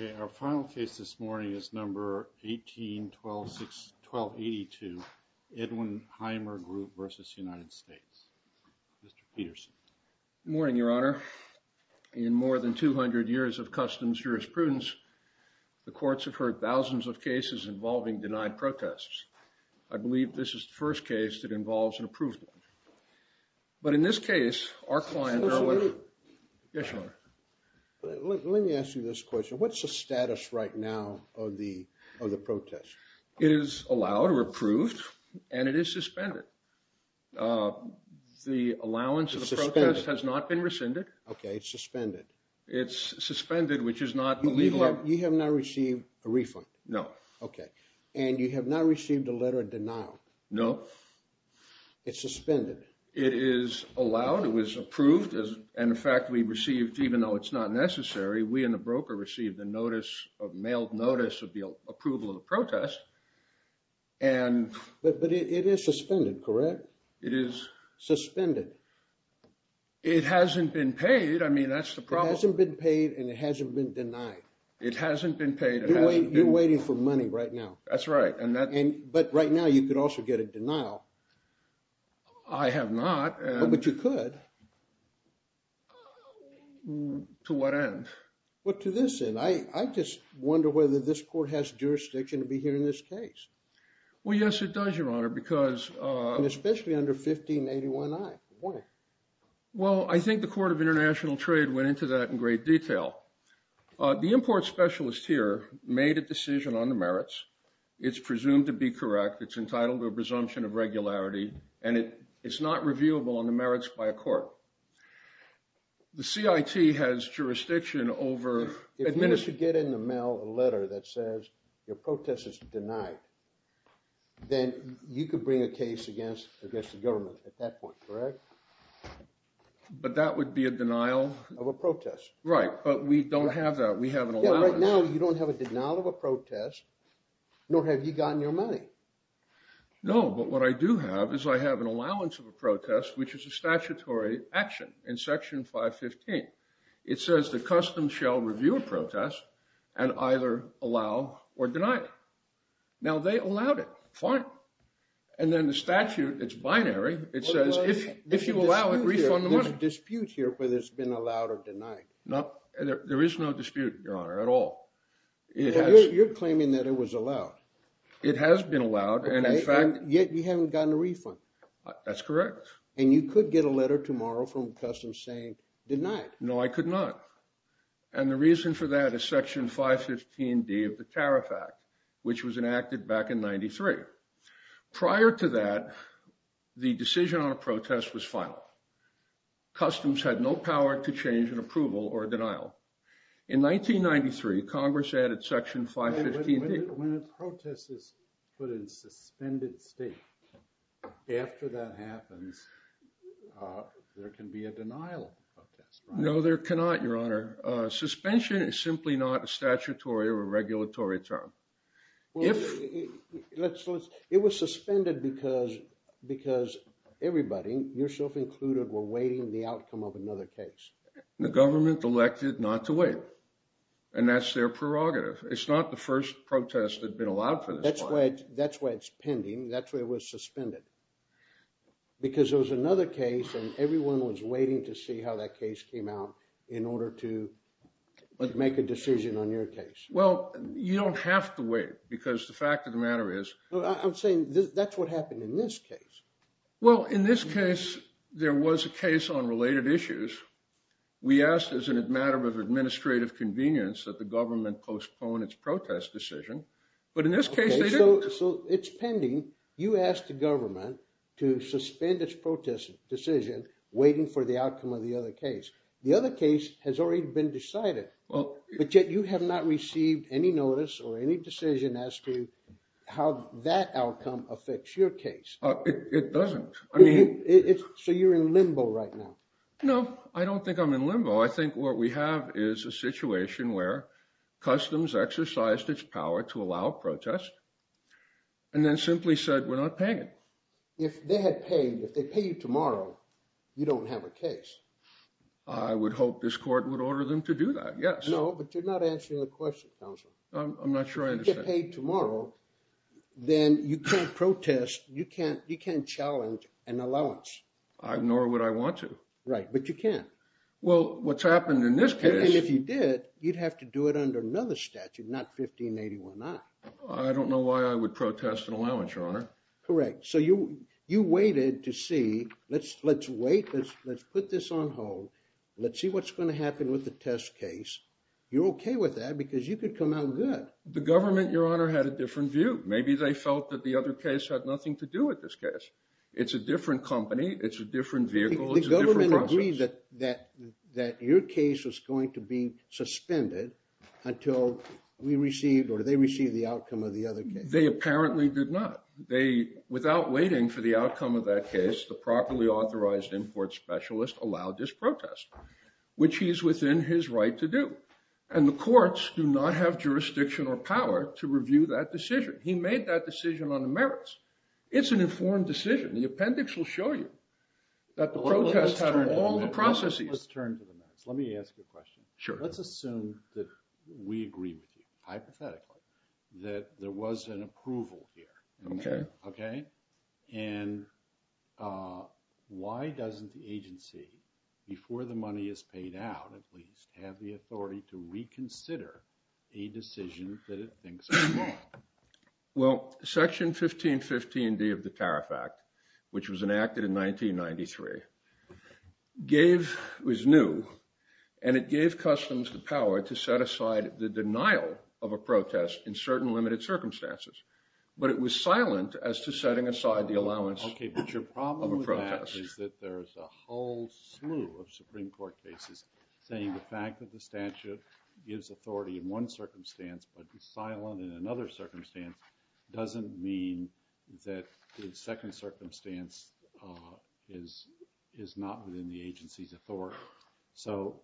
Okay, our final case this morning is number 181261282, Edwin Heimer Group versus United States. Mr. Peterson. Good morning, Your Honor. In more than 200 years of customs jurisprudence, the courts have heard thousands of cases involving denied protests. I believe this is the first case that involves an approved one. But in this case, our client, Erwin... Yes, Your Honor. Let me ask you this question. What's the status right now of the protest? It is allowed or approved, and it is suspended. The allowance of the protest has not been rescinded. Okay, it's suspended. It's suspended, which is not illegal. You have not received a refund? No. Okay. And you have not received a letter of denial? No. It's suspended. It is allowed. It was approved. And in fact, we received, even though it's not necessary, we and the broker received a notice, a mailed notice of the approval of the protest. But it is suspended, correct? It is. Suspended. It hasn't been paid. I mean, that's the problem. It hasn't been paid, and it hasn't been denied. It hasn't been paid. You're waiting for money right now. That's right. But right now, you could also get a denial. I have not. But you could. To what end? Well, to this end. I just wonder whether this court has jurisdiction to be hearing this case. Well, yes, it does, Your Honor, because... And especially under 1581i. Why? Well, I think the Court of International Trade went into that in great detail. The import specialist here made a decision on the merits. It's presumed to be correct. It's entitled to a presumption of regularity. And it's not reviewable on the merits by a court. The CIT has jurisdiction over... If you should get in the mail a letter that says your protest is denied, then you could bring a case against the government at that point, correct? But that would be a denial... Of a protest. Right. But we don't have that. We have an allowance. Yeah, right now, you don't have a denial of a protest, nor have you gotten your money. No. But what I do have is I have an allowance of a protest, which is a statutory action in Section 515. It says the customs shall review a protest and either allow or deny it. Now they allowed it, fine. And then the statute, it's binary. It says if you allow it, refund the money. There's a dispute here whether it's been allowed or denied. There is no dispute, Your Honor, at all. You're claiming that it was allowed. It has been allowed. Okay. And in fact... Yet, you haven't gotten a refund. That's correct. And you could get a letter tomorrow from Customs saying, denied. No, I could not. And the reason for that is Section 515D of the Tariff Act, which was enacted back in 93. Prior to that, the decision on a protest was final. Customs had no power to change an approval or a denial. In 1993, Congress added Section 515D. When a protest is put in suspended state, after that happens, there can be a denial of that. No, there cannot, Your Honor. Suspension is simply not a statutory or a regulatory term. It was suspended because everybody, yourself included, were waiting the outcome of another case. The government elected not to wait. And that's their prerogative. It's not the first protest that's been allowed for this time. That's why it's pending. That's why it was suspended. Because there was another case and everyone was waiting to see how that case came out in order to make a decision on your case. Well, you don't have to wait because the fact of the matter is... I'm saying that's what happened in this case. Well, in this case, there was a case on related issues. We asked, as a matter of administrative convenience, that the government postpone its protest decision. But in this case, they didn't. Okay. So it's pending. You asked the government to suspend its protest decision, waiting for the outcome of the other case. The other case has already been decided, but yet you have not received any notice or any decision as to how that outcome affects your case. It doesn't. I mean... So you're in limbo right now. No, I don't think I'm in limbo. I think what we have is a situation where Customs exercised its power to allow a protest and then simply said, we're not paying it. If they had paid, if they pay you tomorrow, you don't have a case. I would hope this court would order them to do that, yes. No, but you're not answering the question, counsel. I'm not sure I understand. If you get paid tomorrow, then you can't protest, you can't challenge an allowance. Nor would I want to. Right. But you can't. Well, what's happened in this case... And if you did, you'd have to do it under another statute, not 1581i. I don't know why I would protest an allowance, Your Honor. Correct. So you waited to see, let's wait, let's put this on hold. Let's see what's going to happen with the test case. You're okay with that because you could come out good. The government, Your Honor, had a different view. Maybe they felt that the other case had nothing to do with this case. It's a different company, it's a different vehicle, it's a different process. The government agreed that your case was going to be suspended until we received or they received the outcome of the other case. They apparently did not. Without waiting for the outcome of that case, the properly authorized import specialist allowed this protest, which he is within his right to do. And the courts do not have jurisdiction or power to review that decision. He made that decision on the merits. It's an informed decision. The appendix will show you that the protest pattern, all the processes... Let's turn to the merits. Let me ask you a question. Sure. Let's assume that we agree with you, hypothetically, that there was an approval here. Okay. Okay? And why doesn't the agency, before the money is paid out at least, have the authority to reconsider a decision that it thinks is wrong? Well, Section 1515D of the Tariff Act, which was enacted in 1993, was new, and it gave customs the power to set aside the denial of a protest in certain limited circumstances. But it was silent as to setting aside the allowance of a protest. Okay, but your problem with that is that there's a whole slew of Supreme Court cases saying that the fact that the statute gives authority in one circumstance but is silent in another circumstance doesn't mean that the second circumstance is not within the agency's authority. So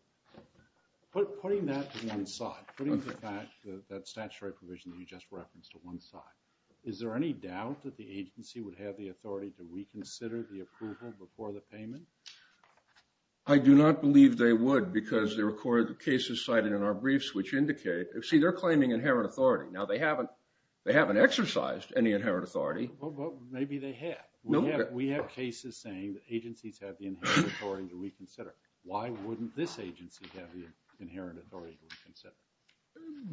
putting that to one side, putting that statutory provision that you just referenced to one side, is there any doubt that the agency would have the authority to reconsider the approval before the payment? I do not believe they would, because there are cases cited in our briefs which indicate – see, they're claiming inherent authority. Now they haven't exercised any inherent authority. Maybe they have. We have cases saying that agencies have the inherent authority to reconsider. Why wouldn't this agency have the inherent authority to reconsider?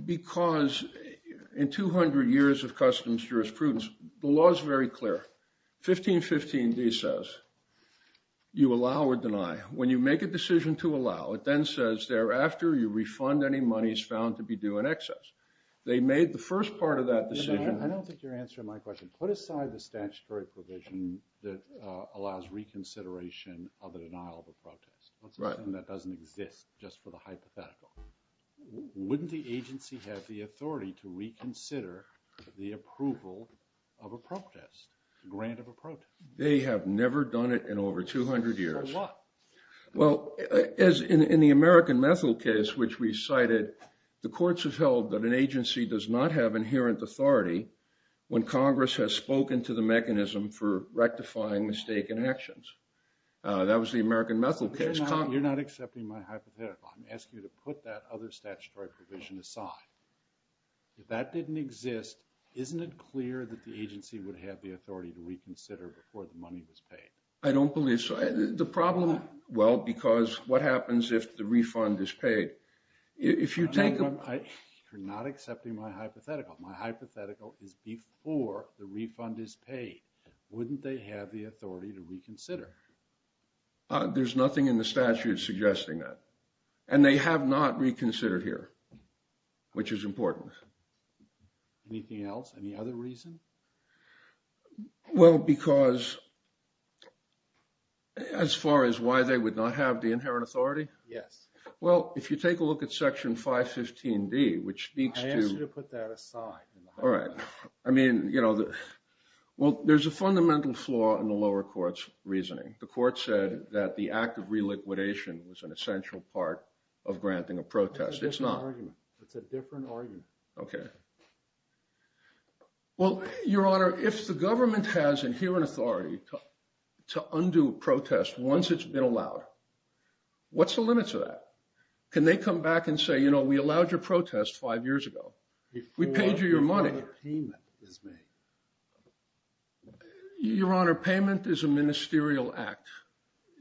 Because in 200 years of customs jurisprudence, the law is very clear. 1515d says, you allow or deny. When you make a decision to allow, it then says thereafter you refund any monies found to be due in excess. They made the first part of that decision – I don't think you're answering my question. Put aside the statutory provision that allows reconsideration of the denial of a protest. Let's assume that doesn't exist just for the hypothetical. Wouldn't the agency have the authority to reconsider the approval of a protest? The grant of a protest? They have never done it in over 200 years. For what? Well, as in the American Methil case, which we cited, the courts have held that an agency does not have inherent authority when Congress has spoken to the mechanism for rectifying mistaken actions. That was the American Methil case. You're not accepting my hypothetical. I'm asking you to put that other statutory provision aside. If that didn't exist, isn't it clear that the agency would have the authority to reconsider before the money was paid? I don't believe so. The problem – well, because what happens if the refund is paid? If you take – You're not accepting my hypothetical. My hypothetical is before the refund is paid, wouldn't they have the authority to reconsider? There's nothing in the statute suggesting that. And they have not reconsidered here, which is important. Anything else? Any other reason? Well, because as far as why they would not have the inherent authority? Yes. Well, if you take a look at Section 515D, which speaks to – I asked you to put that aside. All right. I mean, you know, well, there's a fundamental flaw in the lower court's reasoning. The court said that the act of reliquidation was an essential part of granting a protest. It's not. It's a different argument. Okay. Well, Your Honor, if the government has inherent authority to undo a protest once it's been allowed, what's the limit to that? Can they come back and say, you know, we allowed your protest five years ago. We paid you your money. Before the payment is made. Your Honor, payment is a ministerial act.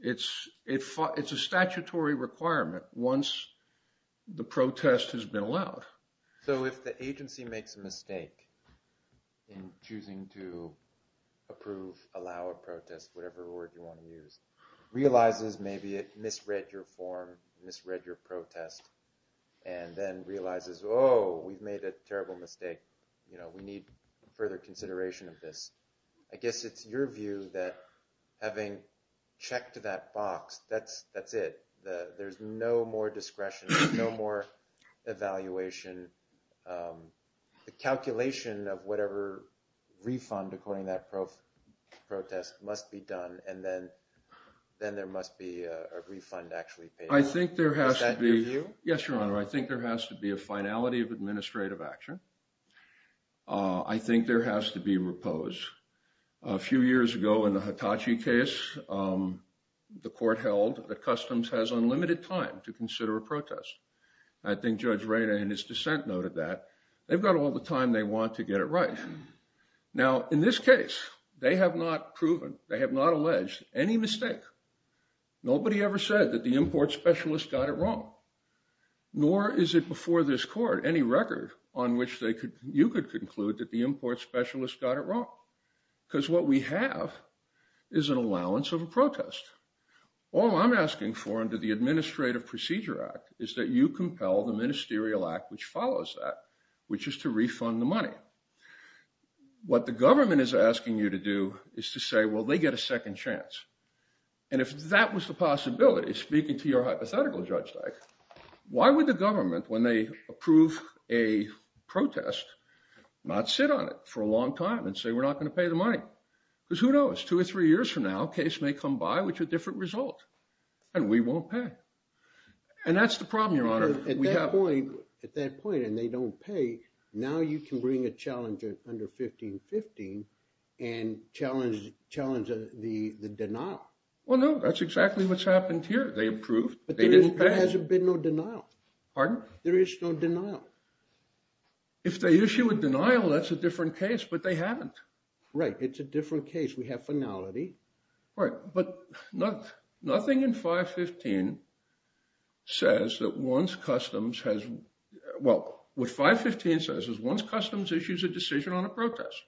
It's a statutory requirement once the protest has been allowed. So if the agency makes a mistake in choosing to approve, allow a protest, whatever word you want to use, realizes maybe it misread your form, misread your protest, and then realizes, oh, we've made a terrible mistake, you know, we need further consideration of this. I guess it's your view that having checked that box, that's it. There's no more discretion, no more evaluation. The calculation of whatever refund, according to that protest, must be done, and then there must be a refund actually paid. Is that your view? I think there has to be. Yes, Your Honor. I think there has to be a finality of administrative action. I think there has to be repose. A few years ago in the Hitachi case, the court held that Customs has unlimited time to consider a protest. I think Judge Rada in his dissent noted that. They've got all the time they want to get it right. Now in this case, they have not proven, they have not alleged any mistake. Nobody ever said that the import specialist got it wrong, nor is it before this court any record on which you could conclude that the import specialist got it wrong. Because what we have is an allowance of a protest. All I'm asking for under the Administrative Procedure Act is that you compel the ministerial act which follows that, which is to refund the money. What the government is asking you to do is to say, well, they get a second chance. And if that was the possibility, speaking to your hypothetical, Judge Dyke, why would the government, when they approve a protest, not sit on it for a long time and say we're not going to pay the money? Because who knows, two or three years from now, a case may come by with a different result and we won't pay. And that's the problem, Your Honor. At that point, and they don't pay, now you can bring a challenger under 1515 and challenge the denial. Well, no, that's exactly what's happened here. They approved, they didn't pay. But there hasn't been no denial. Pardon? There is no denial. If they issue a denial, that's a different case, but they haven't. Right, it's a different case. We have finality. Right, but nothing in 515 says that once Customs has, well, what 515 says is once Customs issues a decision on a protest,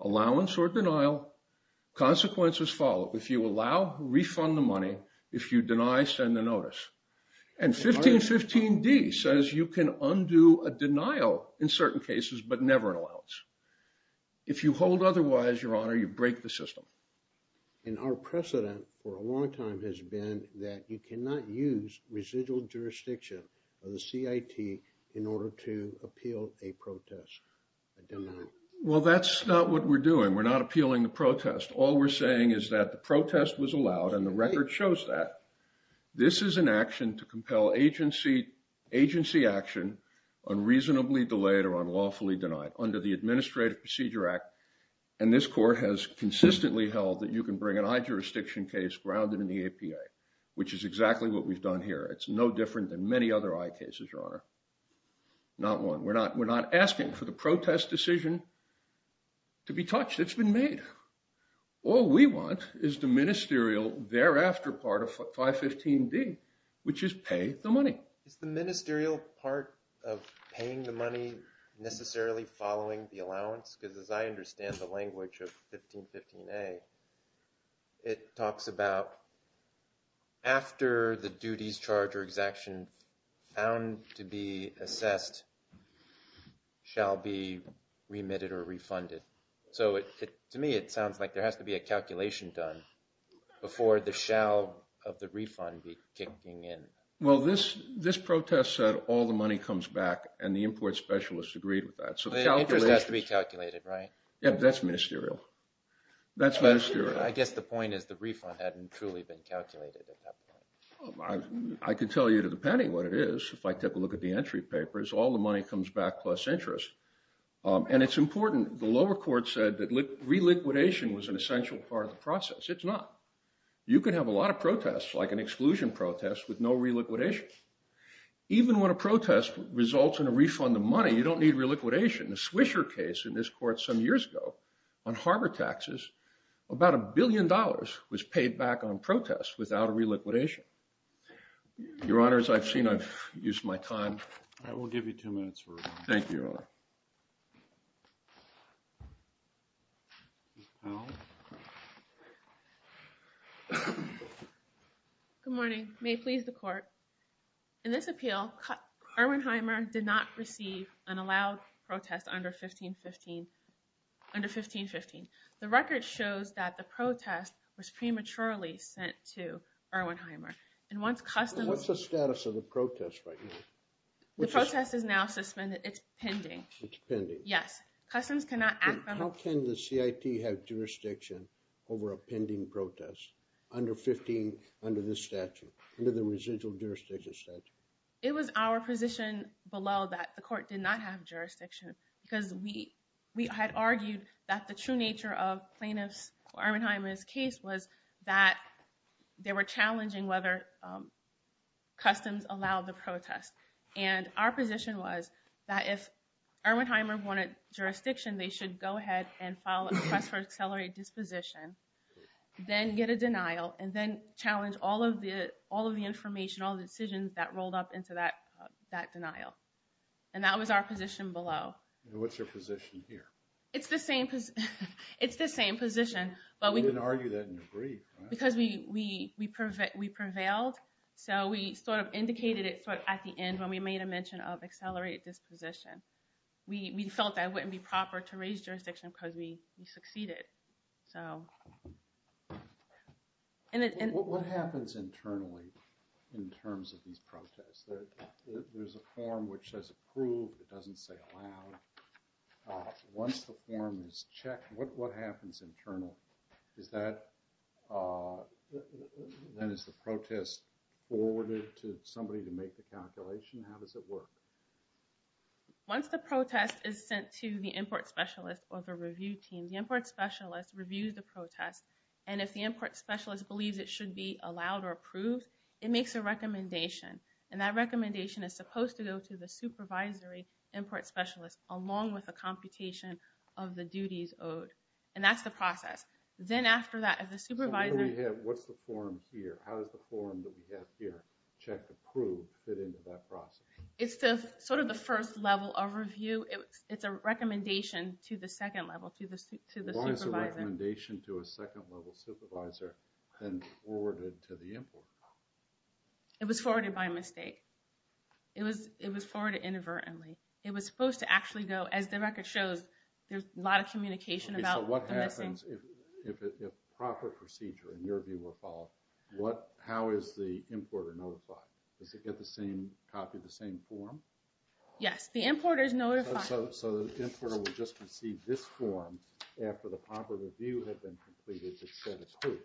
allowance or denial, consequences follow. If you allow, refund the money. If you deny, send a notice. And 1515d says you can undo a denial in certain cases, but never an allowance. If you hold otherwise, Your Honor, you break the system. And our precedent for a long time has been that you cannot use residual jurisdiction of the CIT in order to appeal a protest, a denial. Well, that's not what we're doing. We're not appealing the protest. All we're saying is that the protest was allowed and the record shows that. This is an action to compel agency action unreasonably delayed or unlawfully denied under the Administrative Procedure Act. And this court has consistently held that you can bring an i-jurisdiction case grounded in the APA, which is exactly what we've done here. It's no different than many other i-cases, Your Honor. Not one. We're not asking for the protest decision to be touched. It's been made. All we want is the ministerial thereafter part of 515d, which is pay the money. Is the ministerial part of paying the money necessarily following the allowance? Because as I understand the language of 1515a, it talks about after the duties, charge, or exaction found to be assessed shall be remitted or refunded. So to me, it sounds like there has to be a calculation done before the shall of the refund be kicking in. Well, this protest said all the money comes back, and the import specialists agreed with that. So the interest has to be calculated, right? Yeah. That's ministerial. That's ministerial. I guess the point is the refund hadn't truly been calculated at that point. I can tell you, depending on what it is, if I take a look at the entry papers, all the money comes back plus interest. And it's important. The lower court said that reliquidation was an essential part of the process. It's not. You can have a lot of protests, like an exclusion protest, with no reliquidation. Even when a protest results in a refund of money, you don't need reliquidation. In the Swisher case in this court some years ago on harbor taxes, about a billion dollars was paid back on protests without a reliquidation. Your Honor, as I've seen, I've used my time. All right. We'll give you two minutes. Thank you, Your Honor. Ms. Powell? Good morning. May it please the court. In this appeal, Erwin Heimer did not receive an allowed protest under 1515. The record shows that the protest was prematurely sent to Erwin Heimer. And once customs- What's the status of the protest right now? The protest is now suspended. It's pending. It's pending. Yes. Customs cannot act on- How can the CIT have jurisdiction over a pending protest under 15, under this statute, under the residual jurisdiction statute? It was our position below that the court did not have jurisdiction because we had argued that the true nature of plaintiff's, Erwin Heimer's case was that they were challenging whether customs allowed the protest. And our position was that if Erwin Heimer wanted jurisdiction, they should go ahead and file a request for accelerated disposition, then get a denial, and then challenge all of the information, all the decisions that rolled up into that denial. And that was our position below. And what's your position here? It's the same position. It's the same position. But we- You didn't argue that in your brief, right? Because we prevailed, so we sort of indicated it sort of at the end when we made a mention of accelerated disposition. We felt that it wouldn't be proper to raise jurisdiction because we succeeded. So- And- What happens internally in terms of these protests? There's a form which says approved. It doesn't say allowed. Once the form is checked, what happens internally? Once the protest is sent to the import specialist or the review team, the import specialist reviews the protest. And if the import specialist believes it should be allowed or approved, it makes a recommendation. And that recommendation is supposed to go to the supervisory import specialist along with a computation of the duties owed. And that's the process. Then after that, if the supervisor- So what do we have? What's the form here? How does the form that we have here, check, approve, fit into that process? It's sort of the first level of review. It's a recommendation to the second level, to the supervisor. Why is the recommendation to a second level supervisor then forwarded to the import? It was forwarded by mistake. It was forwarded inadvertently. It was supposed to actually go, as the record shows, there's a lot of communication about the missing- So what happens if proper procedure, in your view, were followed? How is the importer notified? Does it get the same copy, the same form? Yes. The importer is notified. So the importer would just receive this form after the proper review had been completed that said it's approved.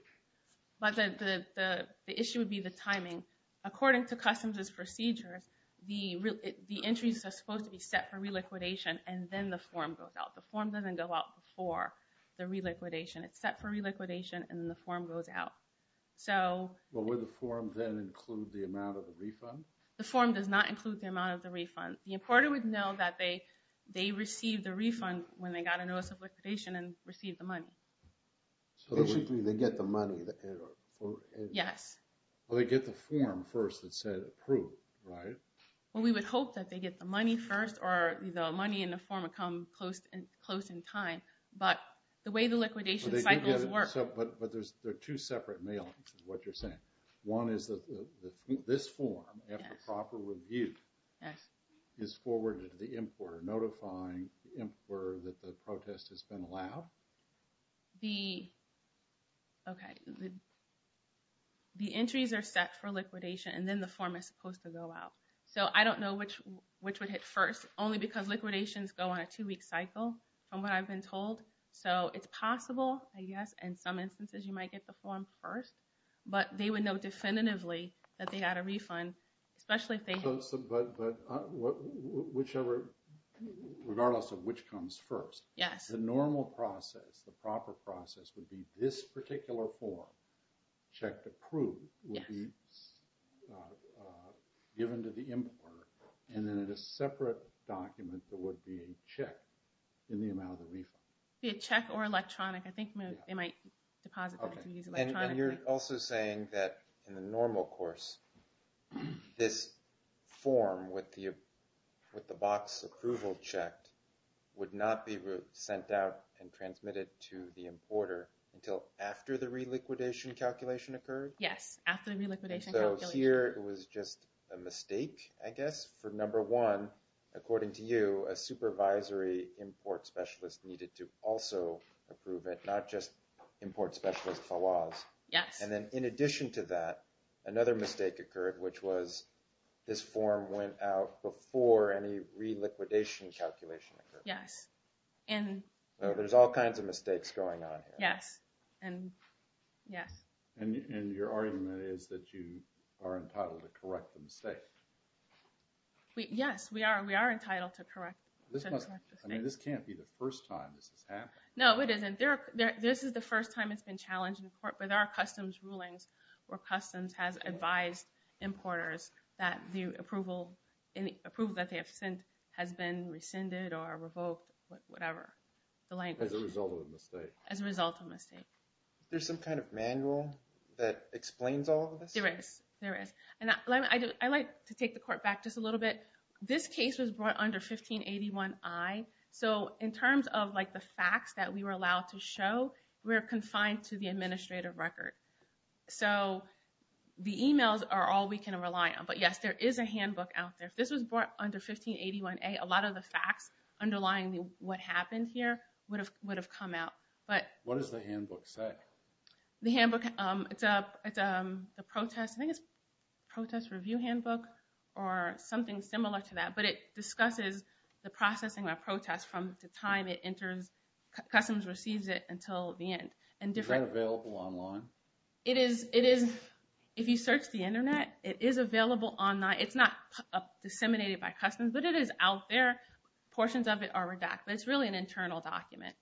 But the issue would be the timing. According to customs' procedures, the entries are supposed to be set for reliquidation, and then the form goes out. The form doesn't go out before the release date. The importer would know that they received the refund when they got a notice of liquidation and received the money. So they get the money? Yes. Well, they get the form first that said approved, right? Well, we would hope that they get the money first, or the money and the form would come close in time. But the way the liquidation cycles work- But there are two separate mailings, is what you're saying. One is that this form, after proper review- Yes. Yes. Is forwarded to the importer, notifying the importer that the protest has been allowed? The... Okay. The entries are set for liquidation, and then the form is supposed to go out. So I don't know which would hit first, only because liquidations go on a two-week cycle. From what I've been told. So it's possible, I guess, in some instances you might get the form first. But they would know definitively that they got a refund, especially if they- But whichever... Regardless of which comes first. Yes. The normal process, the proper process, would be this particular form, checked approved, would be given to the importer. And then in a separate document, there would be a check. And you're also saying that in the normal course, this form with the box approval checked, would not be sent out and transmitted to the importer until after the reliquidation calculation occurred? Yes. After the reliquidation calculation. So here it was just a mistake, I guess, for number one, according to you, a supervisory import specialist needed to also approve it, not just import specialist Fawaz. Yes. And then in addition to that, another mistake occurred, which was this form went out before any reliquidation calculation occurred. Yes. There's all kinds of mistakes going on here. Yes. Yes. And your argument is that you are entitled to correct the mistake. Yes, we are. We are entitled to correct the mistake. I mean, this can't be the first time this has happened. No, it isn't. This is the first time it's been challenged in court. But there are customs rulings where customs has advised importers that the approval that they have sent has been rescinded or revoked, whatever the language. As a result of a mistake. As a result of a mistake. There's some kind of manual that explains all of this? There is. There is. And I'd like to take the court back just a little bit. This case was brought under 1581I. So in terms of the facts that we were allowed to show, we're confined to the administrative record. So the emails are all we can rely on. But yes, there is a handbook out there. If this was brought under 1581A, a lot of the facts underlying what happened here would have come out. What does the handbook say? The handbook, it's a protest review handbook or something similar to that. But it discusses the processing of protests from the time customs receives it until the end. Is that available online? It is. If you search the internet, it is available online. It's not disseminated by customs, but it is out there. Portions of it are redacted. It's really an internal document.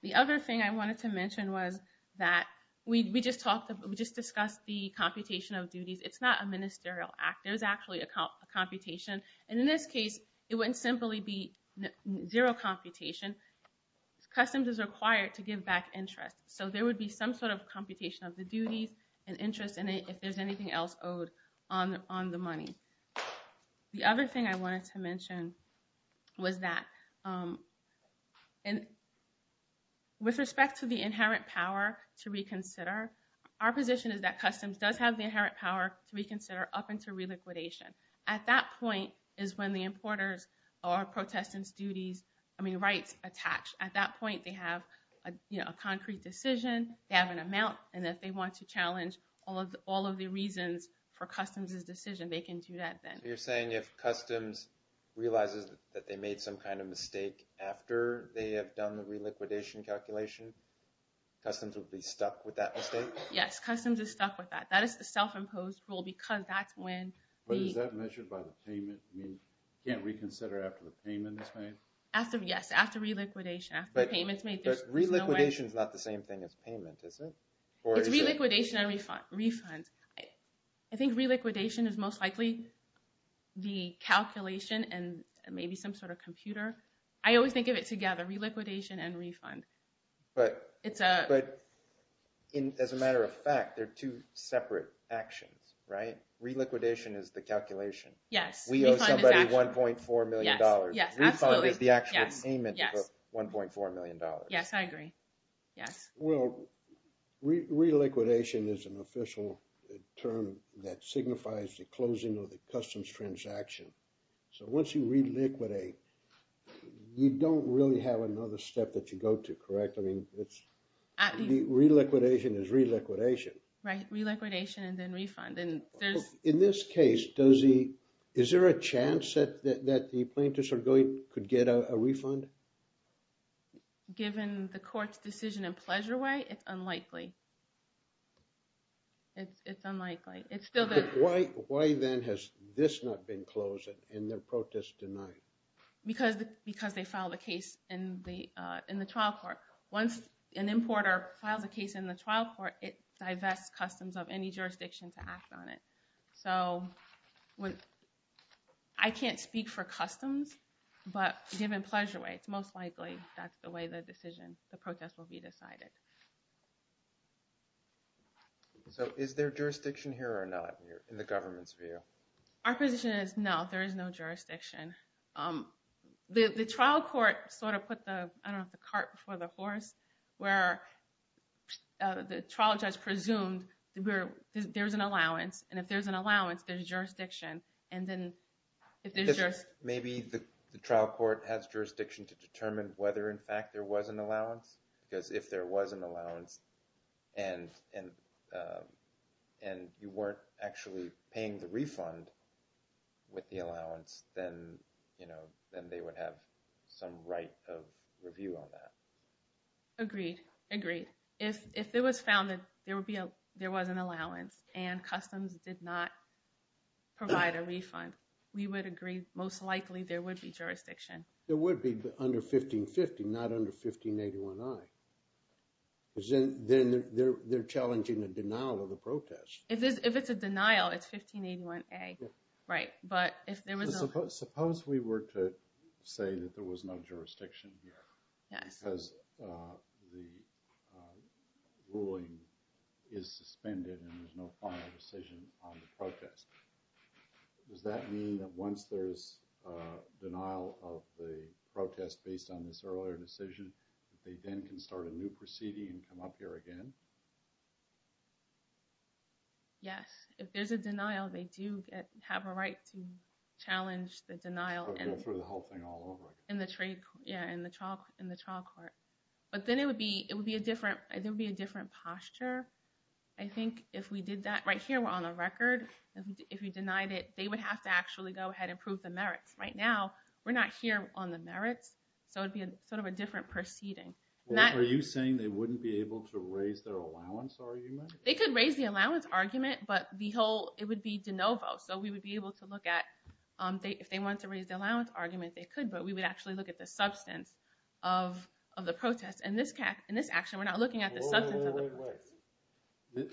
The other thing I wanted to mention was that we just discussed the computation of duties. It's not a ministerial act. There's actually a computation. And in this case, it wouldn't simply be zero computation. Customs is required to give back interest. So there would be some sort of computation of the duties and interest in it if there's anything else owed on the money. The other thing I wanted to mention was that with respect to the inherent power to reconsider, our position is that customs does have the inherent power to reconsider up until reliquidation. At that point is when the importers or protestants' rights attach. At that point, they have a concrete decision. They have an amount, and if they want to challenge all of the reasons for customs' decision, they can do that then. So you're saying if customs realizes that they made some kind of mistake after they have done the reliquidation calculation, customs would be stuck with that mistake? Yes, customs is stuck with that. That is the self-imposed rule because that's when... But is that measured by the payment? You can't reconsider after the payment is made? Yes, after reliquidation. But reliquidation is not the same thing as payment, is it? It's reliquidation and refund. I think reliquidation is most likely the calculation and maybe some sort of computer. I always think of it together, reliquidation and refund. But as a matter of fact, they're two separate actions, right? Reliquidation is the calculation. We owe somebody $1.4 million. Refund is the actual payment of $1.4 million. Yes, I agree. Yes? Well, reliquidation is an official term that signifies the closing of the customs transaction. So once you reliquidate, you don't really have another step that you go to, correct? Reliquidation is reliquidation. Right, reliquidation and then refund. In this case, is there a chance that the plaintiffs could get a refund? Given the court's decision in Pleasure Way, it's unlikely. It's unlikely. Why then has this not been closed and the protest denied? Because they filed a case in the trial court. Once an importer files a case in the trial court, it divests customs of any jurisdiction to act on it. So I can't speak for customs. But given Pleasure Way, it's most likely that's the way the decision, the protest will be decided. So is there jurisdiction here or not in the government's view? Our position is no, there is no jurisdiction. The trial court sort of put the cart before the horse where the trial judge presumed there's an allowance. And if there's an allowance, there's jurisdiction. Maybe the trial court has jurisdiction to determine whether in fact there was an allowance? Because if there was an allowance and you weren't actually paying the refund with the allowance, then they would have some right of review on that. Agreed, agreed. If it was found that there was an allowance and customs did not provide a refund, we would agree most likely there would be jurisdiction. There would be under 1550, not under 1581A. Because then they're challenging a denial of the protest. If it's a denial, it's 1581A. Right, but if there was a... Suppose we were to say that there was no jurisdiction here. Because the ruling is suspended and there's no final decision on the protest. Does that mean that once there's denial of the protest based on this earlier decision, they then can start a new proceeding and come up here again? Yes, if there's a denial, they do have a right to challenge the denial. Go through the whole thing all over again. In the trial court. But then it would be a different posture. I think if we did that right here, we're on the record. If we denied it, they would have to actually go ahead and prove the merits. Right now, we're not here on the merits. So it would be sort of a different proceeding. Are you saying they wouldn't be able to raise their allowance argument? They could raise the allowance argument, but it would be de novo. So we would be able to look at... If they wanted to raise the allowance argument, they could. But we would actually look at the substance of the protest. In this action, we're not looking at the substance of the protest. Wait, wait, wait.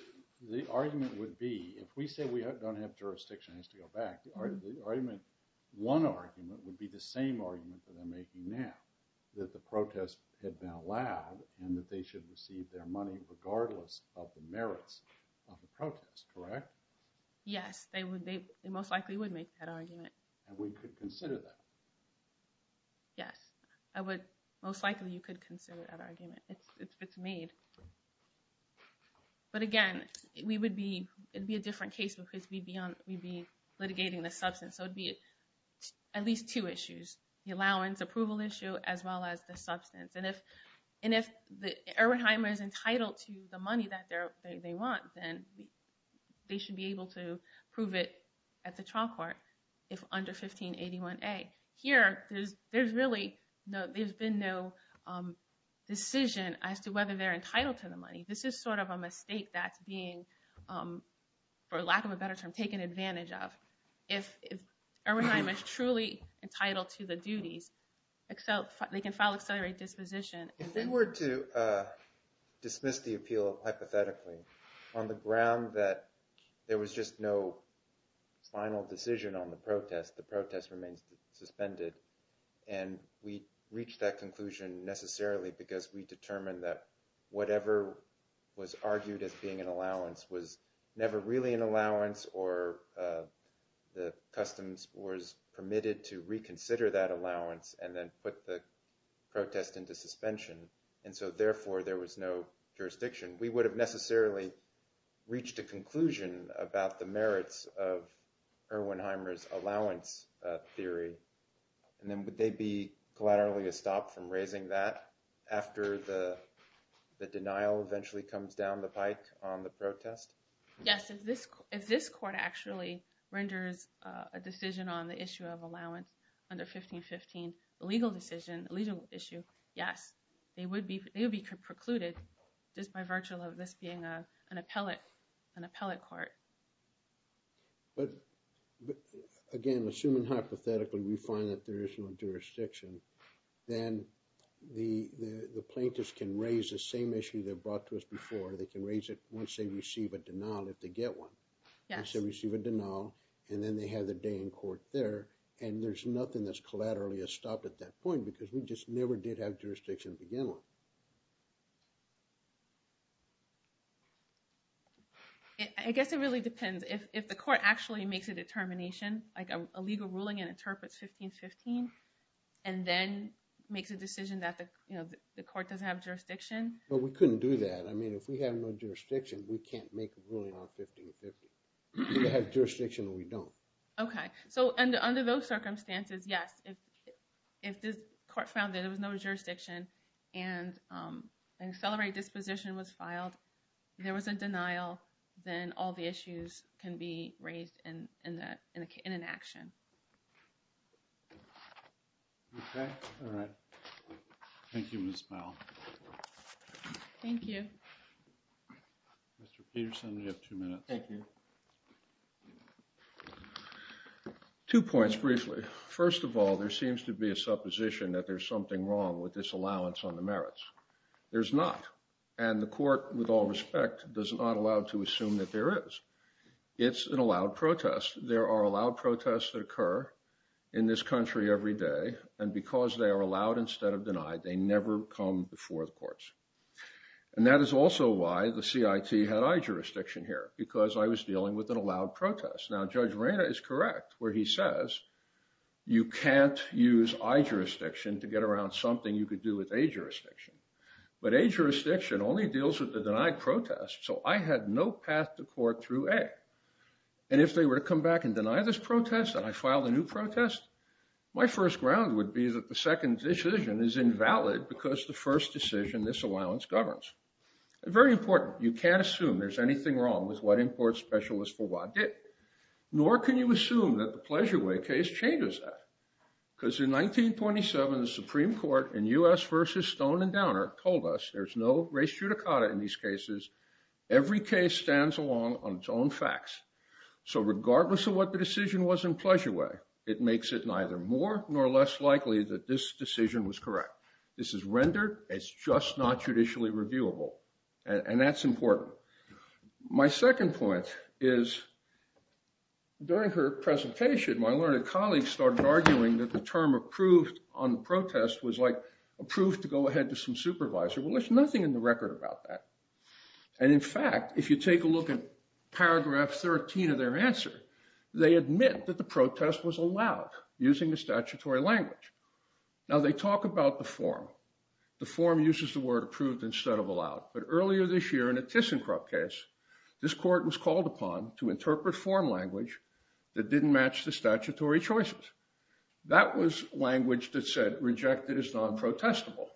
The argument would be, if we say we don't have jurisdiction, it has to go back. One argument would be the same argument that they're making now. That the protest had been allowed and that they should receive their money regardless of the merits of the protest, correct? Yes, they most likely would make that argument. And we could consider that. Yes. Most likely, you could consider that argument if it's made. But again, it would be a different case because we'd be litigating the substance. So it would be at least two issues. The allowance approval issue as well as the substance. And if Erwin Heimer is entitled to the money that they want, then they should be able to prove it at the trial court. If under 1581A. Here, there's really been no decision as to whether they're entitled to the money. This is sort of a mistake that's being, for lack of a better term, taken advantage of. If Erwin Heimer is truly entitled to the duties, they can file accelerated disposition. If they were to dismiss the appeal hypothetically on the ground that there was just no final decision on the protest, the protest remains suspended. And we reached that conclusion necessarily because we determined that whatever was argued as being an allowance was never really an allowance or the customs was permitted to reconsider that allowance and then put the protest into suspension. And so therefore, there was no jurisdiction. We would have necessarily reached a conclusion about the merits of Erwin Heimer's allowance theory. And then would they be collaterally stopped from raising that after the denial eventually comes down the pike on the protest? Yes, if this court actually renders a decision on the issue of allowance under 1515, the legal decision, the legal issue, yes. They would be precluded just by virtue of this being an appellate court. Again, assuming hypothetically we find that there is no jurisdiction, then the plaintiffs can raise the same issue they brought to us before. They can raise it once they receive a denial, if they get one. Once they receive a denial, and then they have their day in court there. And there's nothing that's collaterally stopped at that point because we just never did have jurisdiction to begin with. I guess it really depends. If the court actually makes a determination, like a legal ruling and interprets 1515, and then makes a decision that the court doesn't have jurisdiction. Well, we couldn't do that. I mean, if we have no jurisdiction, we can't make a ruling on 1515. We either have jurisdiction or we don't. Okay, so under those circumstances, yes. If the court found that there was no jurisdiction and an accelerated disposition was filed, there was a denial, then all the issues can be raised in an action. Okay, all right. Thank you, Ms. Powell. Thank you. Mr. Peterson, you have two minutes. Thank you. Two points, briefly. First of all, there seems to be a supposition that there's something wrong with this allowance on the merits. There's not. And the court, with all respect, does not allow to assume that there is. It's an allowed protest. There are allowed protests that occur in this country every day. And because they are allowed instead of denied, they never come before the courts. And that is also why the CIT had high jurisdiction here, because I was dealing with an allowed protest. Now, Judge Moreno is correct, where he says you can't use I-jurisdiction to get around something you could do with A-jurisdiction. But A-jurisdiction only deals with the denied protest, so I had no path to court through A. And if they were to come back and deny this protest, and I filed a new protest, my first ground would be that the second decision is invalid because the first decision in this allowance governs. Very important. You can't assume there's anything wrong with what import specialists for WA did. Nor can you assume that the Pleasure Way case changes that. Because in 1927, the Supreme Court in U.S. v. Stone and Downer told us there's no res judicata in these cases. Every case stands alone on its own facts. So regardless of what the decision was in Pleasure Way, it makes it neither more nor less likely that this decision was correct. This is rendered as just not judicially reviewable. And that's important. My second point is, during her presentation, my learned colleagues started arguing that the term approved on the protest was like approved to go ahead to some supervisor. Well, there's nothing in the record about that. And in fact, if you take a look at paragraph 13 of their answer, they admit that the protest was allowed using the statutory language. Now, they talk about the form. The form uses the word approved instead of allowed. But earlier this year in a ThyssenKrupp case, this court was called upon to interpret form language that didn't match the statutory choices. That was language that said rejected is non-protestable.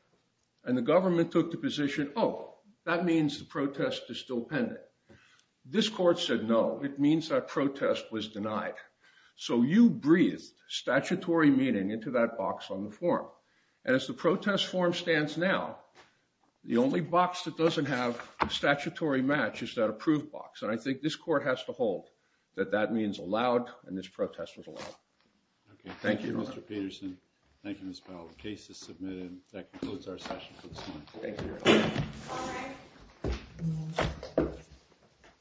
And the government took the position, oh, that means the protest is still pending. This court said, no, it means that protest was denied. So you breathed statutory meaning into that box on the form. And as the protest form stands now, the only box that doesn't have statutory match is that approved box. And I think this court has to hold that that means allowed, and this protest was allowed. Thank you, Mr. Peterson. Thank you, Ms. Powell. The case is submitted. That concludes our session for this morning.